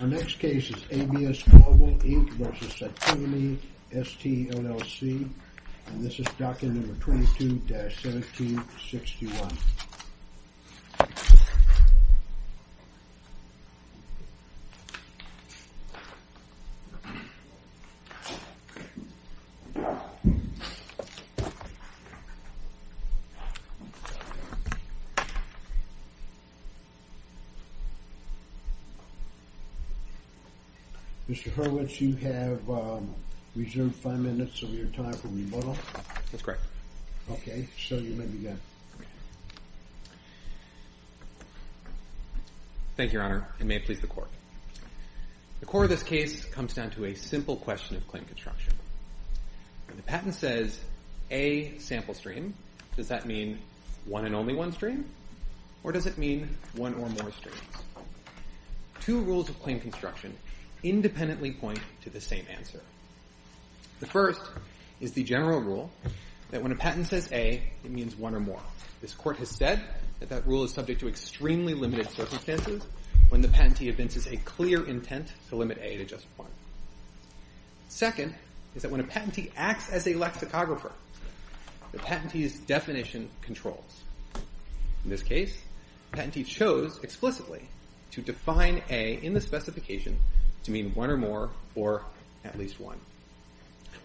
Our next case is ABS Global, Inc. v. Cytonome, ST, LLC and this is document number 22-1761. Mr. Hurwitz, you have reserved five minutes of your time for rebuttal. That's correct. Okay, so you may begin. Thank you, Your Honor, and may it please the Court. The core of this case comes down to a simple question of claim construction. When the patent says, a sample stream, does that mean one and only one stream? Or does it mean one or more streams? Two rules of claim construction independently point to the same answer. The first is the general rule that when a patent says A, it means one or more. This Court has said that that rule is subject to extremely limited circumstances when the patentee evinces a clear intent to limit A to just one. Second is that when a patentee acts as a lexicographer, the patentee's definition controls. In this case, the patentee chose explicitly to define A in the specification to mean one or more or at least one.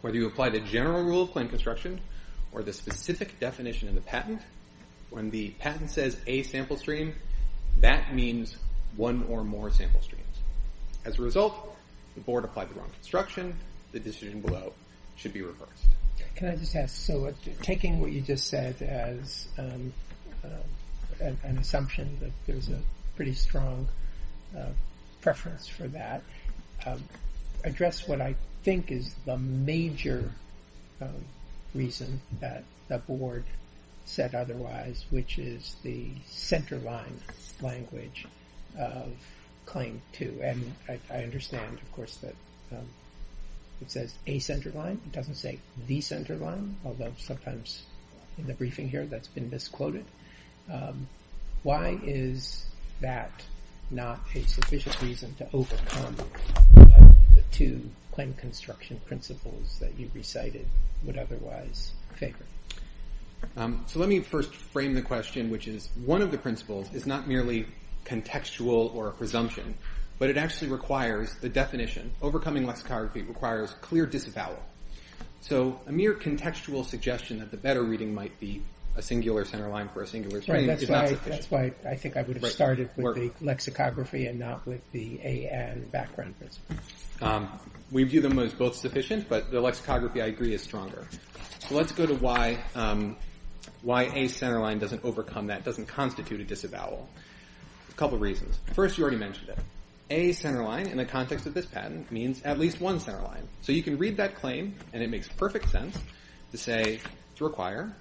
Whether you apply the general rule of claim construction or the specific definition in the patent, when the patent says A sample stream, that means one or more sample streams. As a result, the Board applied the wrong construction. The decision below should be reversed. Can I just ask, so taking what you just said as an assumption that there's a pretty strong preference for that, address what I think is the major reason that the Board said otherwise, which is the centerline language of claim two. And I understand, of course, that it says A centerline. It doesn't say the centerline, although sometimes in the briefing here that's been misquoted. Why is that not a sufficient reason to overcome the two claim construction principles that you recited would otherwise favor? So let me first frame the question, which is one of the principles is not merely contextual or a presumption, but it actually requires the definition. Overcoming lexicography requires clear disavowal. So a mere contextual suggestion that the better reading might be a singular centerline for a singular stream is not sufficient. That's why I think I would have started with the lexicography and not with the A and background principles. We view them as both sufficient, but the lexicography, I agree, is stronger. So let's go to why A centerline doesn't overcome that, doesn't constitute a disavowal. A couple of reasons. First, you already mentioned it. A centerline in the context of this patent means at least one centerline. So you can read that claim, and it makes perfect sense to say to require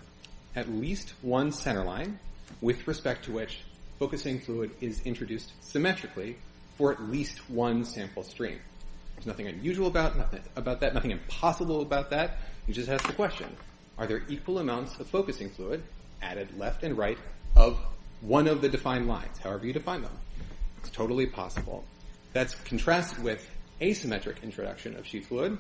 at least one centerline with respect to which focusing fluid is introduced symmetrically for at least one sample stream. There's nothing unusual about that, nothing impossible about that. You just ask the question, are there equal amounts of focusing fluid added left and right of one of the defined lines, however you define them? It's totally possible. That's contrasted with asymmetric introduction of sheet fluid,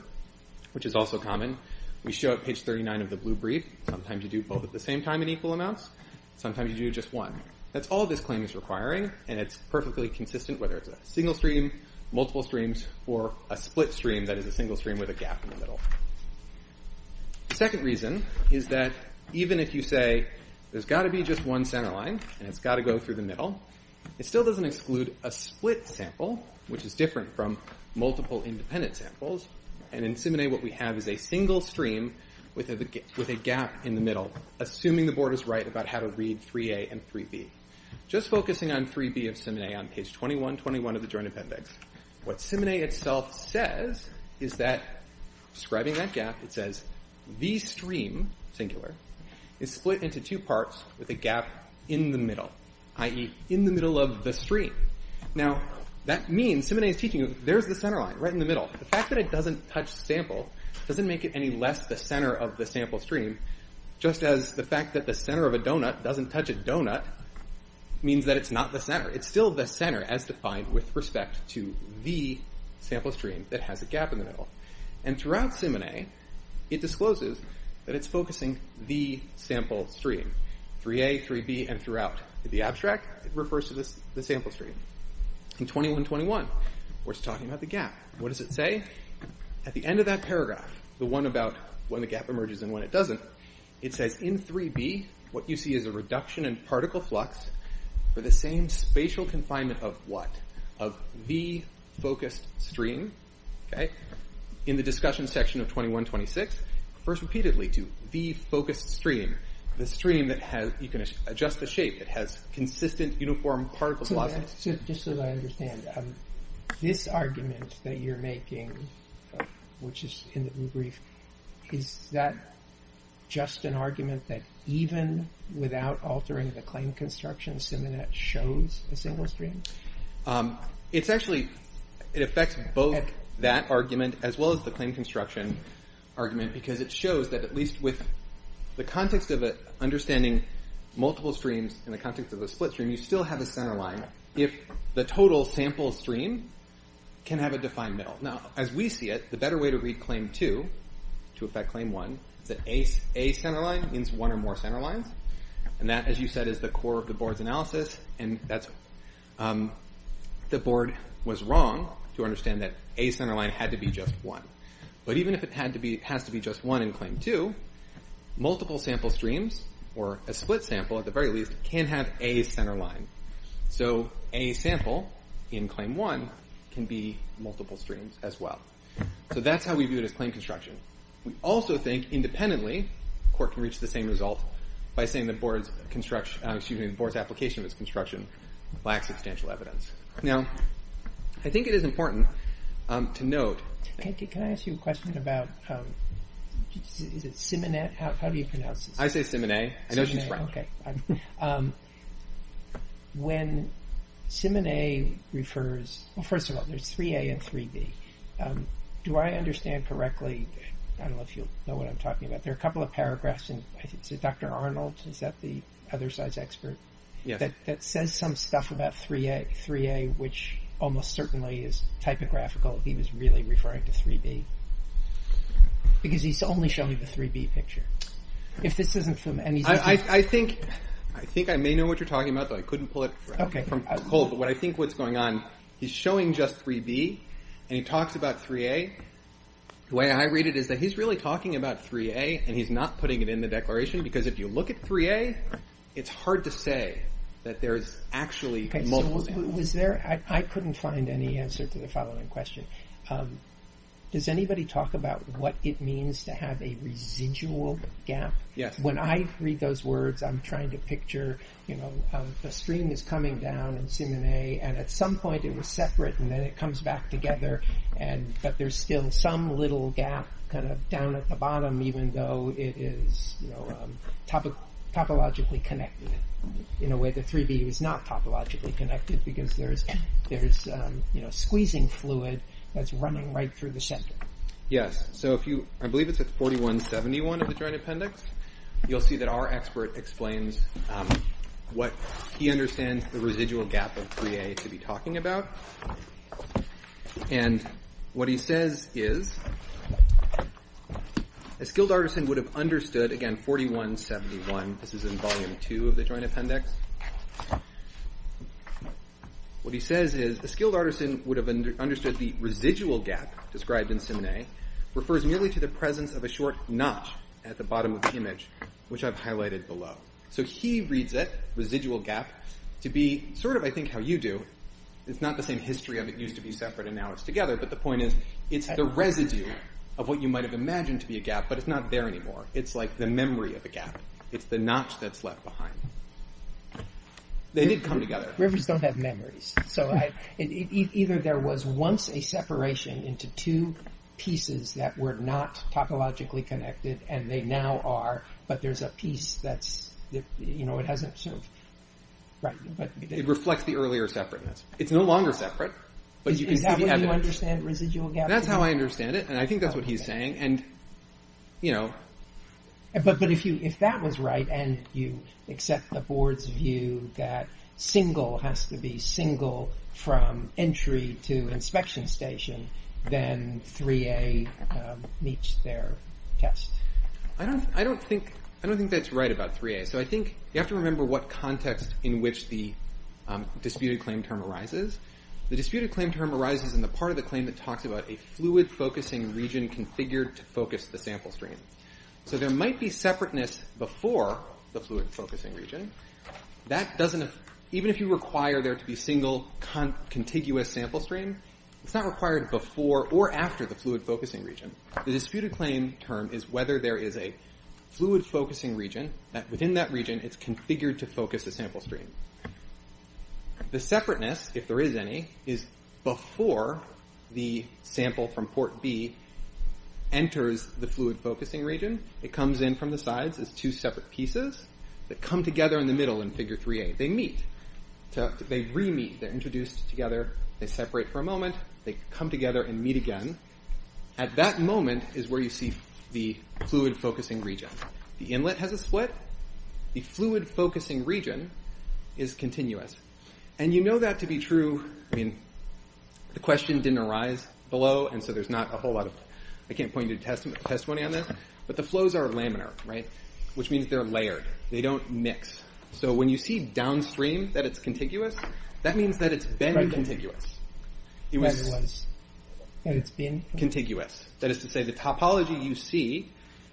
which is also common. We show at page 39 of the blue brief, sometimes you do both at the same time in equal amounts, sometimes you do just one. That's all this claim is requiring, and it's perfectly consistent whether it's a single stream, multiple streams, or a split stream that is a single stream with a gap in the middle. The second reason is that even if you say there's got to be just one centerline and it's got to go through the middle, it still doesn't exclude a split sample, which is different from multiple independent samples, and in SIMONE what we have is a single stream with a gap in the middle, assuming the board is right about how to read 3A and 3B. Just focusing on 3B of SIMONE on page 2121 of the joint appendix, what SIMONE itself says is that, describing that gap, it says, the stream, singular, is split into two parts with a gap in the middle, i.e., in the middle of the stream. Now, that means SIMONE is teaching you, there's the centerline, right in the middle. The fact that it doesn't touch the sample doesn't make it any less the center of the sample stream, just as the fact that the center of a donut doesn't touch a donut means that it's not the center. It's still the center as defined with respect to the sample stream that has a gap in the middle. And throughout SIMONE, it discloses that it's focusing the sample stream, 3A, 3B, and throughout. The abstract refers to the sample stream. In 2121, we're talking about the gap. What does it say? At the end of that paragraph, the one about when the gap emerges and when it doesn't, it says, in 3B, what you see is a reduction in particle flux for the same spatial confinement of what? Of the focused stream. In the discussion section of 2126, it refers repeatedly to the focused stream, the stream that has, you can adjust the shape, it has consistent uniform particle flux. So just so that I understand, this argument that you're making, which is in the brief, is that just an argument that even without altering the claim construction, SIMONE shows a single stream? It's actually, it affects both that argument as well as the claim construction argument because it shows that at least with the context of it, understanding multiple streams in the context of a split stream, you still have a center line if the total sample stream can have a defined middle. Now, as we see it, the better way to read claim two, to affect claim one, is that a center line means one or more center lines, and that, as you said, is the core of the board's analysis, and that's, the board was wrong to understand that a center line had to be just one. But even if it has to be just one in claim two, multiple sample streams, or a split sample at the very least, can have a center line. So a sample in claim one can be multiple streams as well. So that's how we view it as claim construction. We also think, independently, the court can reach the same result by saying the board's construction, excuse me, the board's application of its construction lacks substantial evidence. Now, I think it is important to note Can I ask you a question about, is it Simonet? How do you pronounce his name? I say Simonet. I know he's French. Okay. When Simonet refers, well, first of all, there's 3A and 3B. Do I understand correctly, I don't know if you know what I'm talking about, there are a couple of paragraphs in, is it Dr. Arnold, is that the other side's expert? Yes. That says some stuff about 3A, which almost certainly is typographical. He was really referring to 3B. Because he's only showing the 3B picture. If this isn't from any... I think I may know what you're talking about, but I couldn't pull it from Cole, but what I think what's going on, he's showing just 3B, and he talks about 3A. The way I read it is that he's really talking about 3A, and he's not putting it in the declaration, because if you look at 3A, it's hard to say that there's actually multiple... I couldn't find any answer to the following question. Does anybody talk about what it means to have a residual gap? Yes. When I read those words, I'm trying to picture, the stream is coming down in C and A, and at some point it was separate, and then it comes back together, but there's still some little gap kind of down at the bottom, even though it is topologically connected. In a way, the 3B was not topologically connected, because there's squeezing fluid that's running right through the center. Yes. I believe it's at 4171 of the Joint Appendix. You'll see that our expert explains what he understands the residual gap of 3A to be talking about, and what he says is, a skilled artisan would have understood, again, 4171, this is in Volume 2 of the Joint Appendix. What he says is, a skilled artisan would have understood the residual gap described in C and A refers merely to the presence of a short notch at the bottom of the image, which I've highlighted below. So he reads it, residual gap, to be sort of, I think, how you do. It's not the same history of it used to be separate, and now it's together, but the point is, it's the residue of what you might have imagined to be a gap, but it's not there anymore. It's like the memory of a gap. It's the notch that's left behind. They did come together. Rivers don't have memories. So either there was once a separation into two pieces that were not topologically connected, and they now are, but there's a piece that hasn't sort of... It reflects the earlier separateness. It's no longer separate, but you can see the evidence. Is that what you understand residual gap to be? That's how I understand it, and I think that's what he's saying, and, you know... But if that was right, and you accept the board's view that single has to be single from entry to inspection station, then 3A meets their test. I don't think that's right about 3A. So I think you have to remember what context in which the disputed claim term arises. The disputed claim term arises in the part of the claim that talks about a fluid-focusing region configured to focus the sample stream. So there might be separateness before the fluid-focusing region. That doesn't... Even if you require there to be single contiguous sample stream, it's not required before or after the fluid-focusing region. The disputed claim term is whether there is a fluid-focusing region that within that region it's configured to focus the sample stream. The separateness, if there is any, is before the sample from port B enters the fluid-focusing region. It comes in from the sides as two separate pieces that come together in the middle in figure 3A. They meet. They re-meet. They're introduced together. They separate for a moment. They come together and meet again. At that moment is where you see the fluid-focusing region. The inlet has a split. The fluid-focusing region is continuous. You know that to be true. The question didn't arise below. There's not a whole lot of... I can't point you to testimony on this. The flows are laminar, which means they're layered. They don't mix. When you see downstream that it's contiguous, that means that it's been contiguous. That is to say the topology you see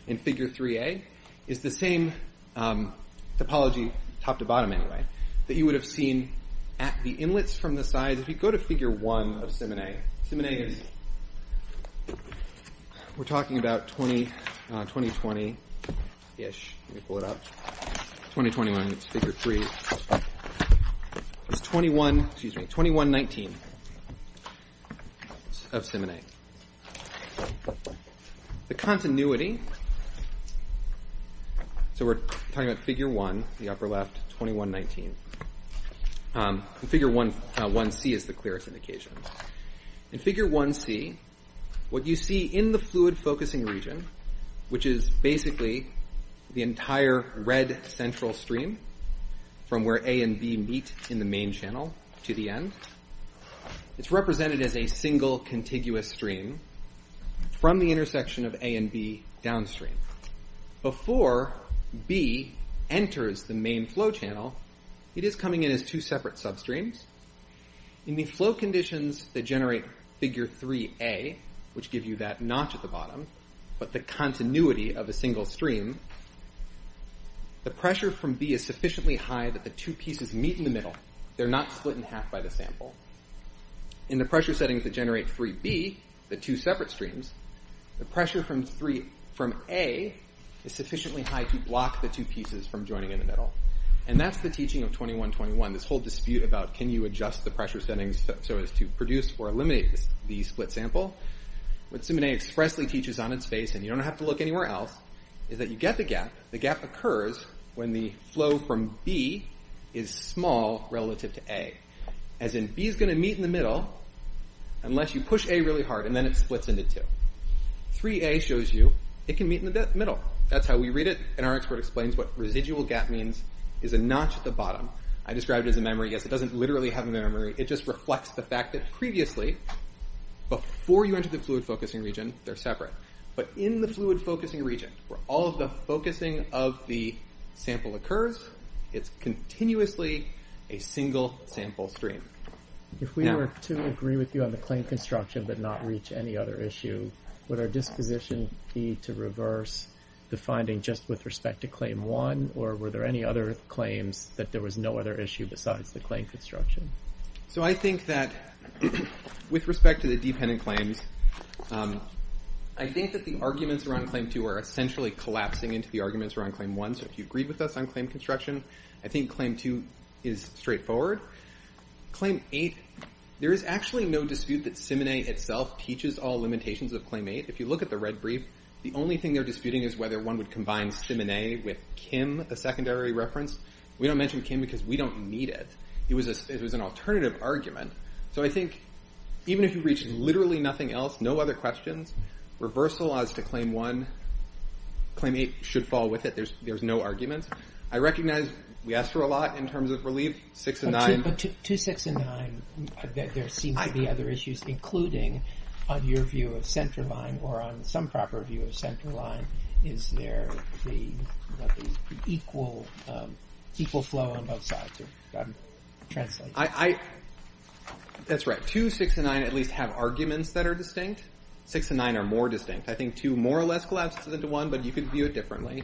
in figure 3A is the same topology, top to bottom anyway, that you would have seen at the inlets from the sides. If you go to figure 1 of Simene, Simene is... We're talking about 2020-ish. Let me pull it up. 2021, it's figure 3. It's 2119 of Simene. The continuity... We're talking about figure 1, the upper left, 2119. Figure 1C is the clearest indication. In figure 1C, what you see in the fluid-focusing region, which is basically the entire red central stream from where A and B meet in the main channel to the end, it's represented as a single contiguous stream from the intersection of A and B downstream Before B enters the main flow channel, it is coming in as two separate substreams. In the flow conditions that generate figure 3A, which give you that notch at the bottom, but the continuity of a single stream, the pressure from B is sufficiently high that the two pieces meet in the middle. They're not split in half by the sample. In the pressure settings that generate 3B, the two separate streams, the pressure from A is sufficiently high to block the two pieces from joining in the middle. And that's the teaching of 2121, this whole dispute about can you adjust the pressure settings so as to produce or eliminate the split sample? What Simene expressly teaches on its face, and you don't have to look anywhere else, is that you get the gap. The gap occurs when the flow from B is small relative to A, as in B is going to meet in the middle unless you push A really hard, and then it splits into two. 3A shows you it can meet in the middle. That's how we read it, and our expert explains what residual gap means is a notch at the bottom. I describe it as a memory. Yes, it doesn't literally have a memory. It just reflects the fact that previously, before you enter the fluid-focusing region, they're separate. But in the fluid-focusing region, where all of the focusing of the sample occurs, it's continuously a single sample stream. If we were to agree with you on the claim construction but not reach any other issue, would our disposition be to reverse the finding just with respect to Claim 1, or were there any other claims that there was no other issue besides the claim construction? I think that with respect to the dependent claims, I think that the arguments around Claim 2 are essentially collapsing into the arguments around Claim 1, so if you agreed with us on claim construction, I think Claim 2 is straightforward. Claim 8, there is actually no dispute that Simene itself teaches all limitations of Claim 8. If you look at the red brief, the only thing they're disputing is whether one would combine Simene with Kim, a secondary reference. We don't mention Kim because we don't need it. It was an alternative argument. So I think even if you reached literally nothing else, no other questions, reversal as to Claim 1, Claim 8 should fall with it. There's no arguments. I recognize we asked for a lot in terms of relief, 6 and 9. But 2, 6, and 9, there seem to be other issues, including on your view of centerline or on some proper view of centerline, is there the equal flow on both sides? Translate. That's right. 2, 6, and 9 at least have arguments that are distinct. 6 and 9 are more distinct. I think 2 more or less collapses into 1, but you can view it differently.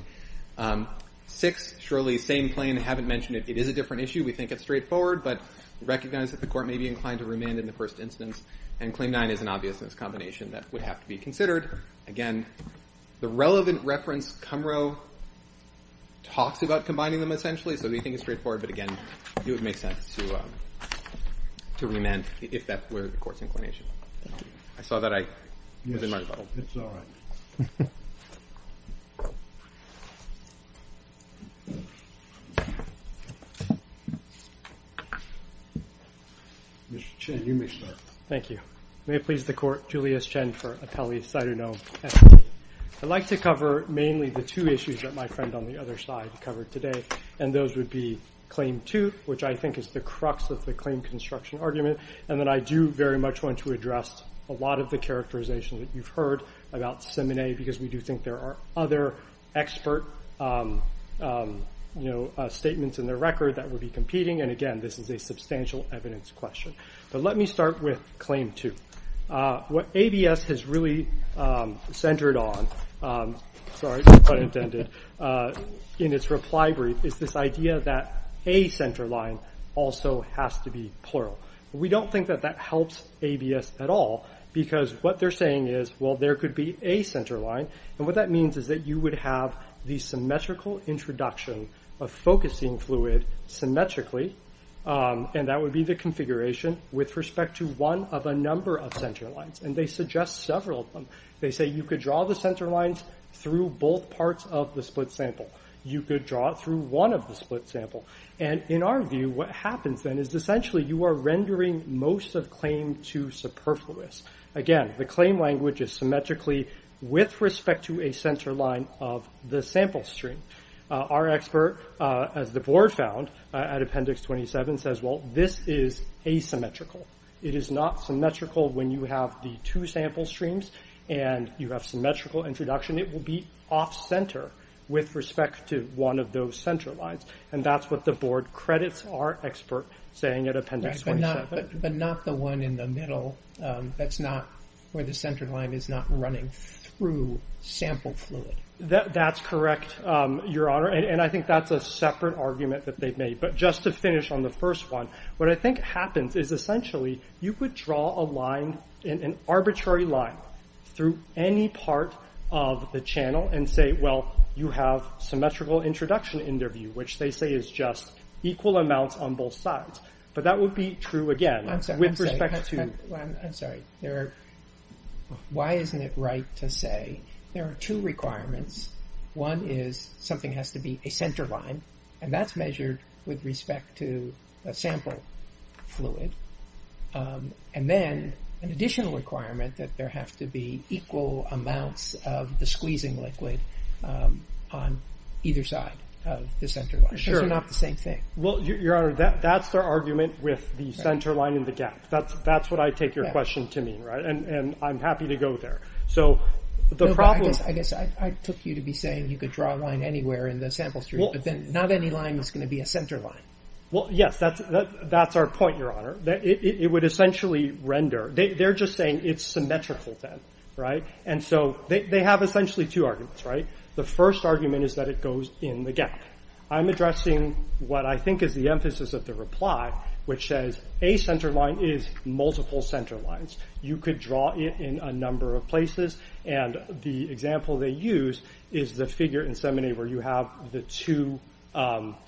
6, surely, same claim. I haven't mentioned it. It is a different issue. We think it's straightforward, but recognize that the court may be inclined to remand in the first instance, and Claim 9 is an obviousness combination that would have to be considered. Again, the relevant reference, Kumrow talks about combining them essentially, so we think it's straightforward, but again, it would make sense to remand if that were the court's inclination. I saw that I was in my bubble. It's all right. Mr. Chen, you may start. Thank you. May it please the court, Julius Chen for appellee, side or no. I'd like to cover mainly the two issues that my friend on the other side covered today, and those would be Claim 2, which I think is the crux of the claim construction argument, and that I do very much want to address a lot of the characterization that you've heard about Simene, because we do think there are other expert statements in the record that would be competing, and again, this is a substantial evidence question. Let me start with Claim 2. What ABS has really centered on, sorry, pun intended, in its reply brief is this idea that a center line also has to be plural. We don't think that that helps ABS at all, because what they're saying is, well, there could be a center line, and what that means is that you would have the symmetrical introduction of focusing fluid symmetrically, and that would be the configuration with respect to one of a number of center lines, and they suggest several of them. They say you could draw the center lines through both parts of the split sample. You could draw it through one of the split sample, and in our view, what happens then is essentially you are rendering most of Claim 2 superfluous. Again, the claim language is symmetrically with respect to a center line of the sample stream. Our expert, as the board found at Appendix 27, says, well, this is asymmetrical. It is not symmetrical when you have the two sample streams and you have symmetrical introduction. It will be off-center with respect to one of those center lines, and that's what the board credits our expert saying at Appendix 27. But not the one in the middle. That's not where the center line is not running through sample fluid. That's correct, Your Honor, and I think that's a separate argument that they've made, but just to finish on the first one, what I think happens is essentially you could draw an arbitrary line through any part of the channel and say, well, you have symmetrical introduction in their view, which they say is just equal amounts on both sides. But that would be true, again, with respect to... I'm sorry. Why isn't it right to say there are two requirements? One is something has to be a center line, and that's measured with respect to a sample fluid. And then an additional requirement that there have to be equal amounts of the squeezing liquid on either side of the center line, because they're not the same thing. Well, Your Honor, that's their argument with the center line and the gap. That's what I take your question to mean, and I'm happy to go there. So the problem... I guess I took you to be saying you could draw a line anywhere in the sample fluid, but then not any line is going to be a center line. Well, yes, that's our point, Your Honor. It would essentially render... They're just saying it's symmetrical then, right? And so they have essentially two arguments, right? The first argument is that it goes in the gap. I'm addressing what I think is the emphasis of the reply, which says a center line is multiple center lines. You could draw it in a number of places, and the example they use is the figure in Seminary where you have the two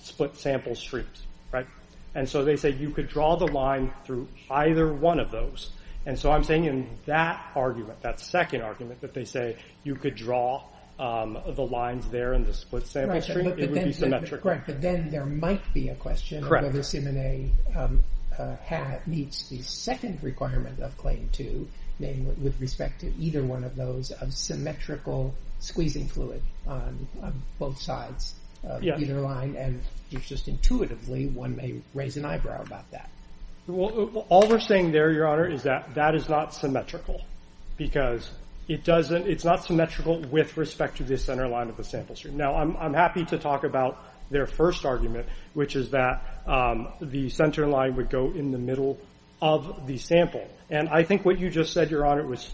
split sample streams, right? And so they say you could draw the line through either one of those. And so I'm saying in that argument, that second argument that they say you could draw the lines there in the split sample stream, it would be symmetrical. But then there might be a question of whether Seminary meets the second requirement of Claim 2, namely with respect to either one of those, of symmetrical squeezing fluid on both sides of either line, and just intuitively one may raise an eyebrow about that. Well, all we're saying there, Your Honor, is that that is not symmetrical because it's not symmetrical with respect to the center line of the sample stream. Now, I'm happy to talk about their first argument, which is that the center line would go in the middle of the sample. And I think what you just said, Your Honor, was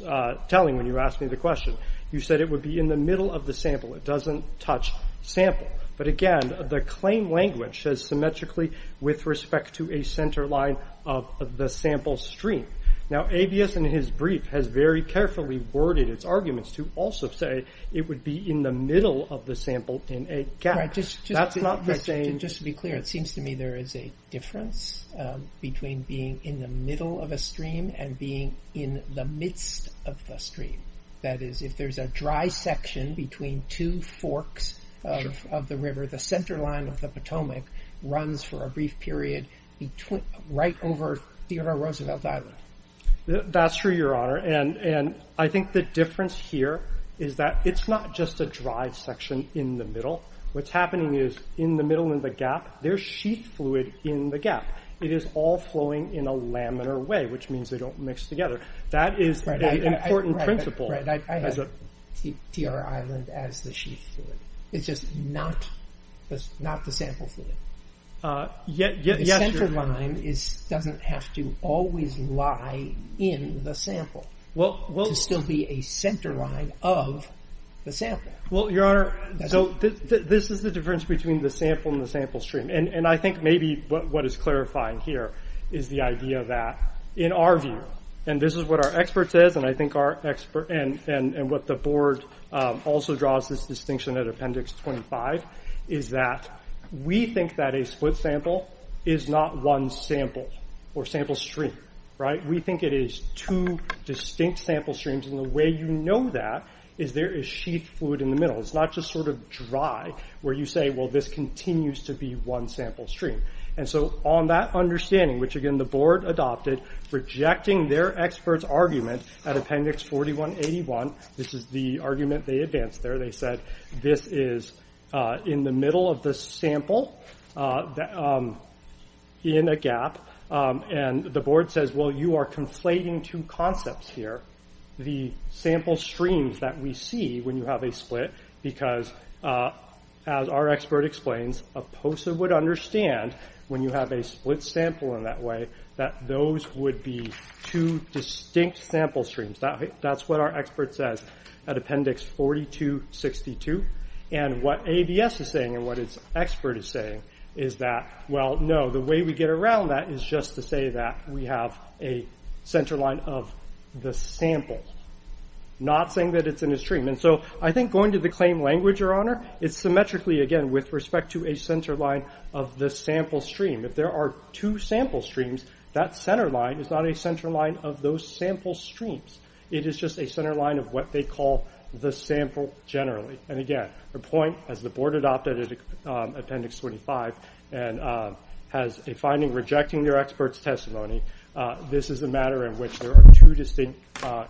telling when you asked me the question. You said it would be in the middle of the sample. It doesn't touch sample. But again, the claim language says symmetrically with respect to a center line of the sample stream. Now, Avius and his brief has very carefully worded its arguments to also say it would be in the middle of the sample in a gap. That's not the same... Just to be clear, it seems to me there is a difference between being in the middle of a stream and being in the midst of the stream. That is, if there's a dry section between two forks of the river, the center line of the Potomac runs for a brief period right over Tierra Roosevelt Island. That's true, Your Honor. And I think the difference here is that it's not just a dry section in the middle. What's happening is, in the middle in the gap, there's sheath fluid in the gap. It is all flowing in a laminar way, which means they don't mix together. That is an important principle. Right, I have Tierra Island as the sheath fluid. It's just not the sample fluid. The center line doesn't have to always lie in the sample to still be a center line of the sample. Well, Your Honor, this is the difference between the sample and the sample stream. And I think maybe what is clarifying here is the idea that, in our view, and this is what our expert says, and what the board also draws as distinction at Appendix 25, is that we think that a split sample is not one sample or sample stream. We think it is two distinct sample streams. And the way you know that is there is sheath fluid in the middle. It's not just sort of dry, where you say, well, this continues to be one sample stream. And so on that understanding, which, again, the board adopted, rejecting their expert's argument at Appendix 4181, this is the argument they advanced there, where they said this is in the middle of the sample, in a gap, and the board says, well, you are conflating two concepts here. The sample streams that we see when you have a split, because, as our expert explains, a POSA would understand, when you have a split sample in that way, that those would be two distinct sample streams. That's what our expert says at Appendix 4262. And what ABS is saying, and what its expert is saying, is that, well, no, the way we get around that is just to say that we have a centerline of the sample, not saying that it's in a stream. And so I think going to the claim language, Your Honor, it's symmetrically, again, with respect to a centerline of the sample stream. If there are two sample streams, that centerline is not a centerline of those sample streams. It is just a centerline of what they call the sample generally. And again, the point, as the board adopted it at Appendix 25, and has a finding rejecting their expert's testimony, this is a matter in which there are two distinct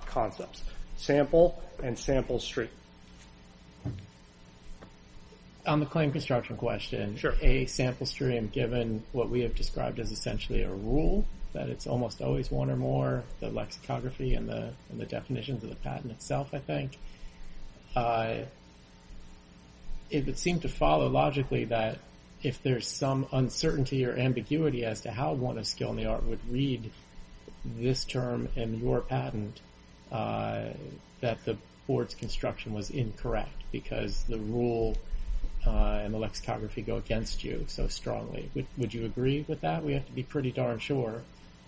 concepts, sample and sample stream. On the claim construction question, a sample stream, given what we have described as essentially a rule, that it's almost always one or more, the lexicography and the definitions of the patent itself, I think, it would seem to follow logically that if there's some uncertainty or ambiguity as to how one of skill in the art would read this term in your patent, that the board's construction was incorrect because the rule and the lexicography go against you so strongly. Would you agree with that? We have to be pretty darn sure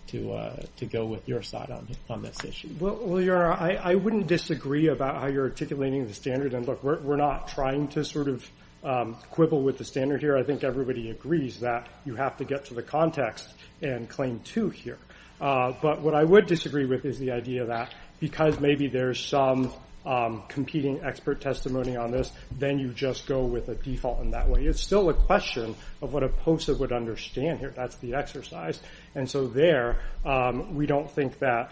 to go with your side on this issue. Well, Your Honor, I wouldn't disagree about how you're articulating the standard. And look, we're not trying to sort of quibble with the standard here. I think everybody agrees that you have to get to the context and claim two here. But what I would disagree with is the idea that because maybe there's some competing expert testimony on this, then you just go with a default in that way. It's still a question of what a POSA would understand here. That's the exercise. And so there, we don't think that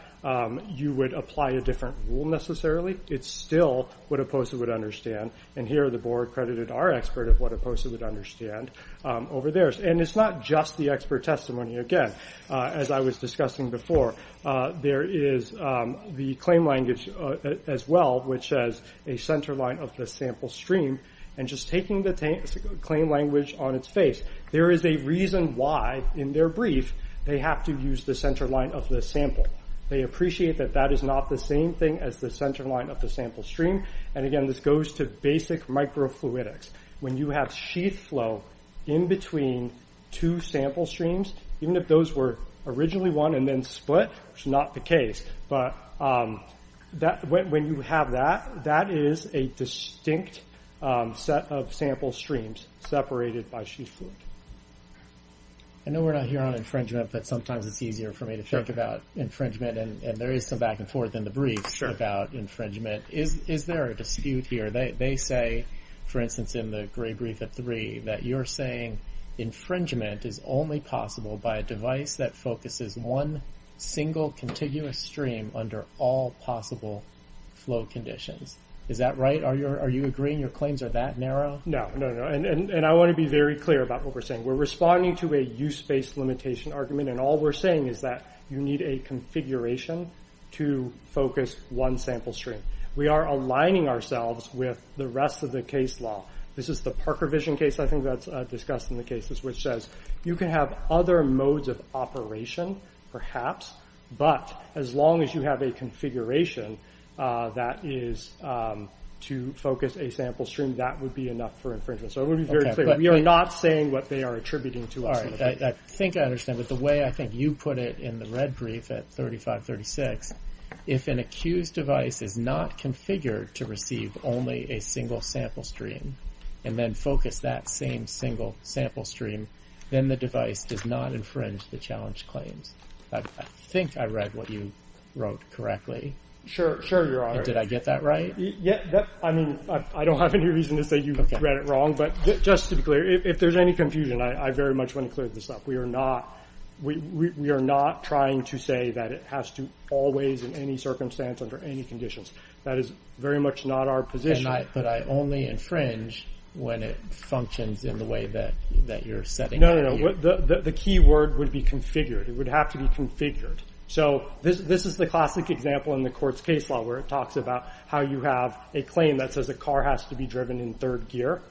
you would apply a different rule necessarily. It's still what a POSA would understand. And here, the board credited our expert of what a POSA would understand over theirs. And it's not just the expert testimony. Again, as I was discussing before, there is the claim language as well, which says a center line of the sample stream. And just taking the claim language on its face, there is a reason why, in their brief, they have to use the center line of the sample. They appreciate that that is not the same thing as the center line of the sample stream. And again, this goes to basic microfluidics. When you have sheath flow in between two sample streams, even if those were originally one and then split, which is not the case, but when you have that, that is a distinct set of sample streams separated by sheath fluid. I know we're not here on infringement, but sometimes it's easier for me to think about infringement. And there is some back and forth in the brief about infringement. Is there a dispute here? They say, for instance, in the gray brief at three, that you're saying infringement is only possible by a device that focuses one single contiguous stream under all possible flow conditions. Is that right? Are you agreeing? Your claims are that narrow? No, no, no. And I want to be very clear about what we're saying. We're responding to a use-based limitation argument, and all we're saying is that you need a configuration to focus one sample stream. We are aligning ourselves with the rest of the case law. This is the Parker Vision case, I think that's discussed in the cases, which says you can have other modes of operation, perhaps, but as long as you have a configuration that is to focus a sample stream, that would be enough for infringement. So it would be very clear. We are not saying what they are attributing to us. All right. I think I understand, but the way I think you put it in the red brief at 3536, if an accused device is not configured to receive only a single sample stream and then focus that same single sample stream, then the device does not infringe the challenge claims. I think I read what you wrote correctly. Sure, Your Honor. Did I get that right? I mean, I don't have any reason to say you read it wrong, but just to be clear, if there's any confusion, I very much want to clear this up. We are not trying to say that it has to always, in any circumstance, under any conditions. That is very much not our position. But I only infringe when it functions in the way that you're setting out here. No, no, no. The key word would be configured. It would have to be configured. So this is the classic example in the court's case law where it talks about how you have a claim that says a car has to be driven in third gear.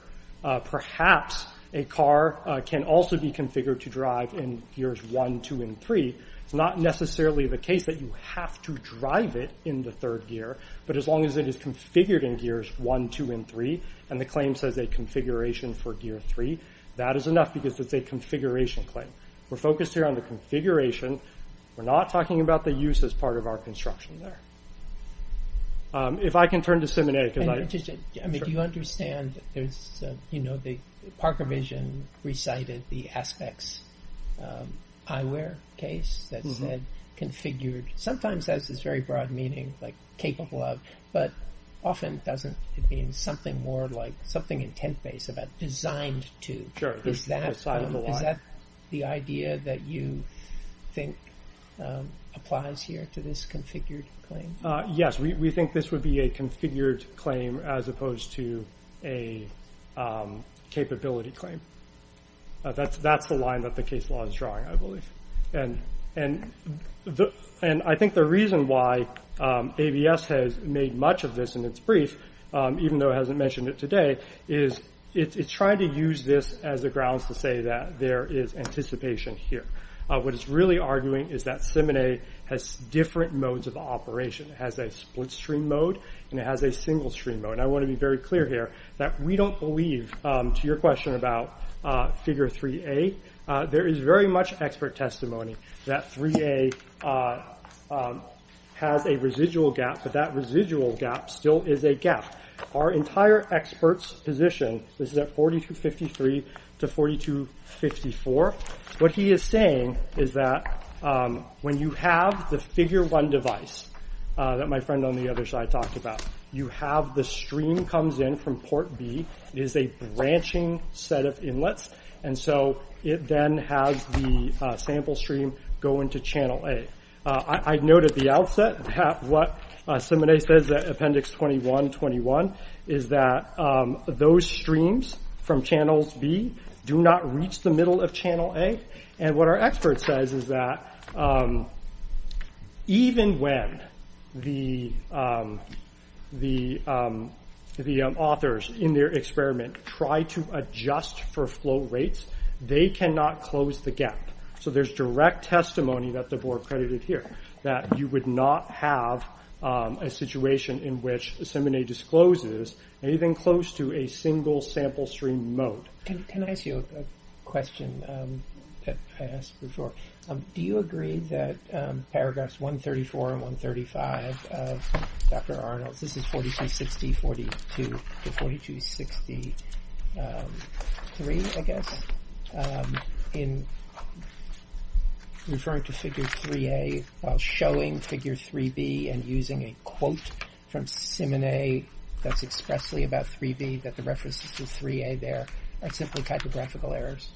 Perhaps a car can also be configured to drive in gears one, two, and three. It's not necessarily the case that you have to drive it in the third gear, but as long as it is configured in gears one, two, and three and the claim says a configuration for gear three, that is enough because it's a configuration claim. We're focused here on the configuration. We're not talking about the use as part of our construction there. If I can turn to Simone. I mean, do you understand there's, you know, Parker Vision recited the Aspects eyewear case that said configured. Sometimes that has this very broad meaning, like capable of, but often it doesn't. It means something more like, something intent-based about designed to. Sure. Is that the idea that you think applies here to this configured claim? Yes, we think this would be a configured claim as opposed to a capability claim. That's the line that the case law is drawing, I believe. And I think the reason why AVS has made much of this in its brief, even though it hasn't mentioned it today, is it's trying to use this as a grounds to say that there is anticipation here. What it's really arguing is that Simone has different modes of operation. It has a split stream mode and it has a single stream mode. And I want to be very clear here that we don't believe to your question about figure 3A. There is very much expert testimony that 3A has a residual gap, but that residual gap still is a gap. Our entire expert's position, this is at 4253 to 4254, what he is saying is that when you have the figure 1 device that my friend on the other side talked about, you have the stream comes in from port B, it is a branching set of inlets, and so it then has the sample stream go into channel A. I noted at the outset that what Simone says at appendix 2121 is that those streams from channels B do not reach the middle of channel A. And what our expert says is that even when the authors in their experiment try to adjust for flow rates, they cannot close the gap. So there's direct testimony that the board credited here that you would not have a situation in which Simone discloses anything close to a single sample stream mode. Can I ask you a question that I asked before? Do you agree that paragraphs 134 and 135 of Dr. Arnold's, this is 4262 to 4263, I guess, in referring to figure 3A while showing figure 3B and using a quote from Simone that's expressly about 3B that the reference is to 3A there are simply typographical errors?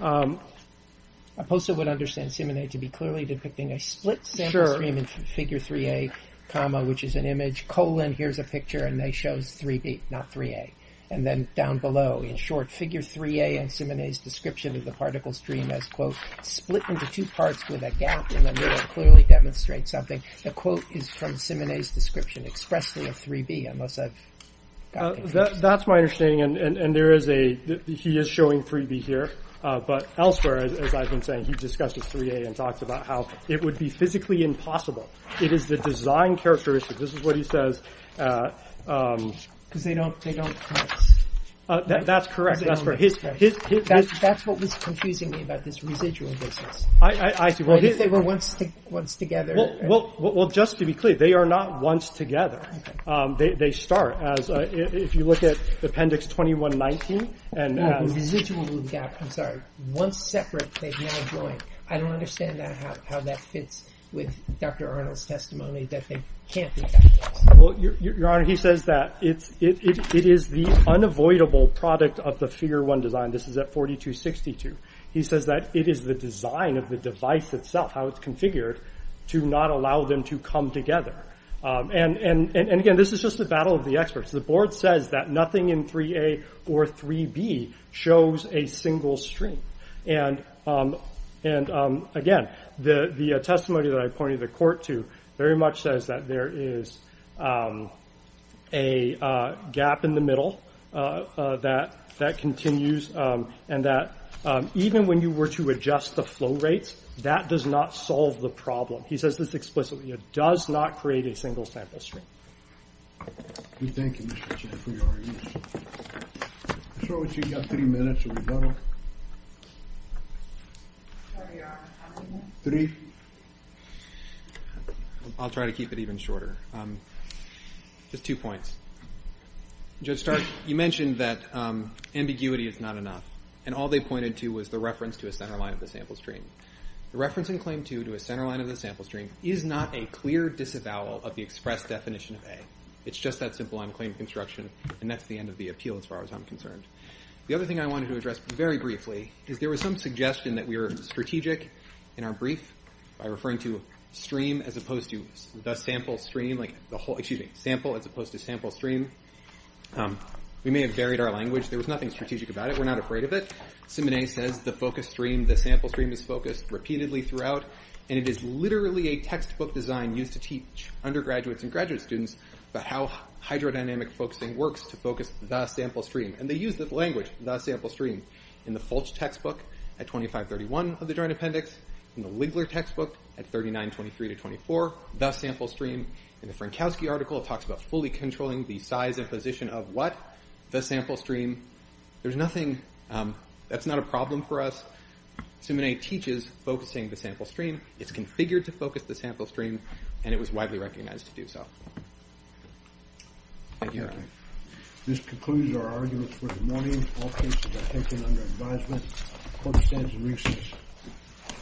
A poster would understand Simone to be clearly depicting a split sample stream in figure 3A, comma, which is an image, colon, here's a picture, and they show 3B, not 3A. And then down below, in short, figure 3A and Simone's description of the particle stream as, quote, split into two parts with a gap in the middle clearly demonstrates something. The quote is from Simone's description expressly of 3B, unless I've got things wrong. That's my understanding. And he is showing 3B here. But elsewhere, as I've been saying, he discussed this 3A and talked about how it would be physically impossible. It is the design characteristic. This is what he says. Because they don't cross. That's correct. That's what was confusing me about this residual distance. I see. What if they were once together? Well, just to be clear, they are not once together. They start as, if you look at appendix 2119, and as. Residual gap, I'm sorry. Once separate, they now join. I don't understand how that fits with Dr. Arnold's testimony that they can't be together. Well, Your Honor, he says that it is the unavoidable product of the figure one design. This is at 4262. He says that it is the design of the device itself, how it's configured, to not allow them to come together. And again, this is just a battle of the experts. The board says that nothing in 3A or 3B shows a single stream. And again, the testimony that I pointed the court to very much says that there is a gap in the middle that continues. And that even when you were to adjust the flow rates, that does not solve the problem. He says this explicitly. It does not create a single sample stream. Thank you, Mr. Chen, for your argument. I'm sure we've got three minutes or so. Three? I'll try to keep it even shorter. Just two points. Judge Stark, you mentioned that ambiguity is not enough. And all they pointed to was the reference to a centerline of the sample stream. The reference in Claim 2 to a centerline of the sample stream is not a clear disavowal of the express definition of A. It's just that simple on claim construction, and that's the end of the appeal as far as I'm concerned. The other thing I wanted to address very briefly is there was some suggestion that we were strategic in our brief by referring to stream as opposed to the sample stream. Excuse me, sample as opposed to sample stream. We may have varied our language. There was nothing strategic about it. We're not afraid of it. Simone says the focus stream, the sample stream, is focused repeatedly throughout. And it is literally a textbook design used to teach undergraduates and graduate students about how hydrodynamic focusing works to focus the sample stream. And they use this language, the sample stream, in the Fulch textbook at 2531 of the Joint Appendix, in the Ligler textbook at 3923-24, the sample stream. In the Frankowski article, it talks about fully controlling the size and position of what? The sample stream. There's nothing, that's not a problem for us. Simone teaches focusing the sample stream. It's configured to focus the sample stream, and it was widely recognized to do so. Thank you. This concludes our argument for the morning. All cases are taken under advisement. Court stands in recess.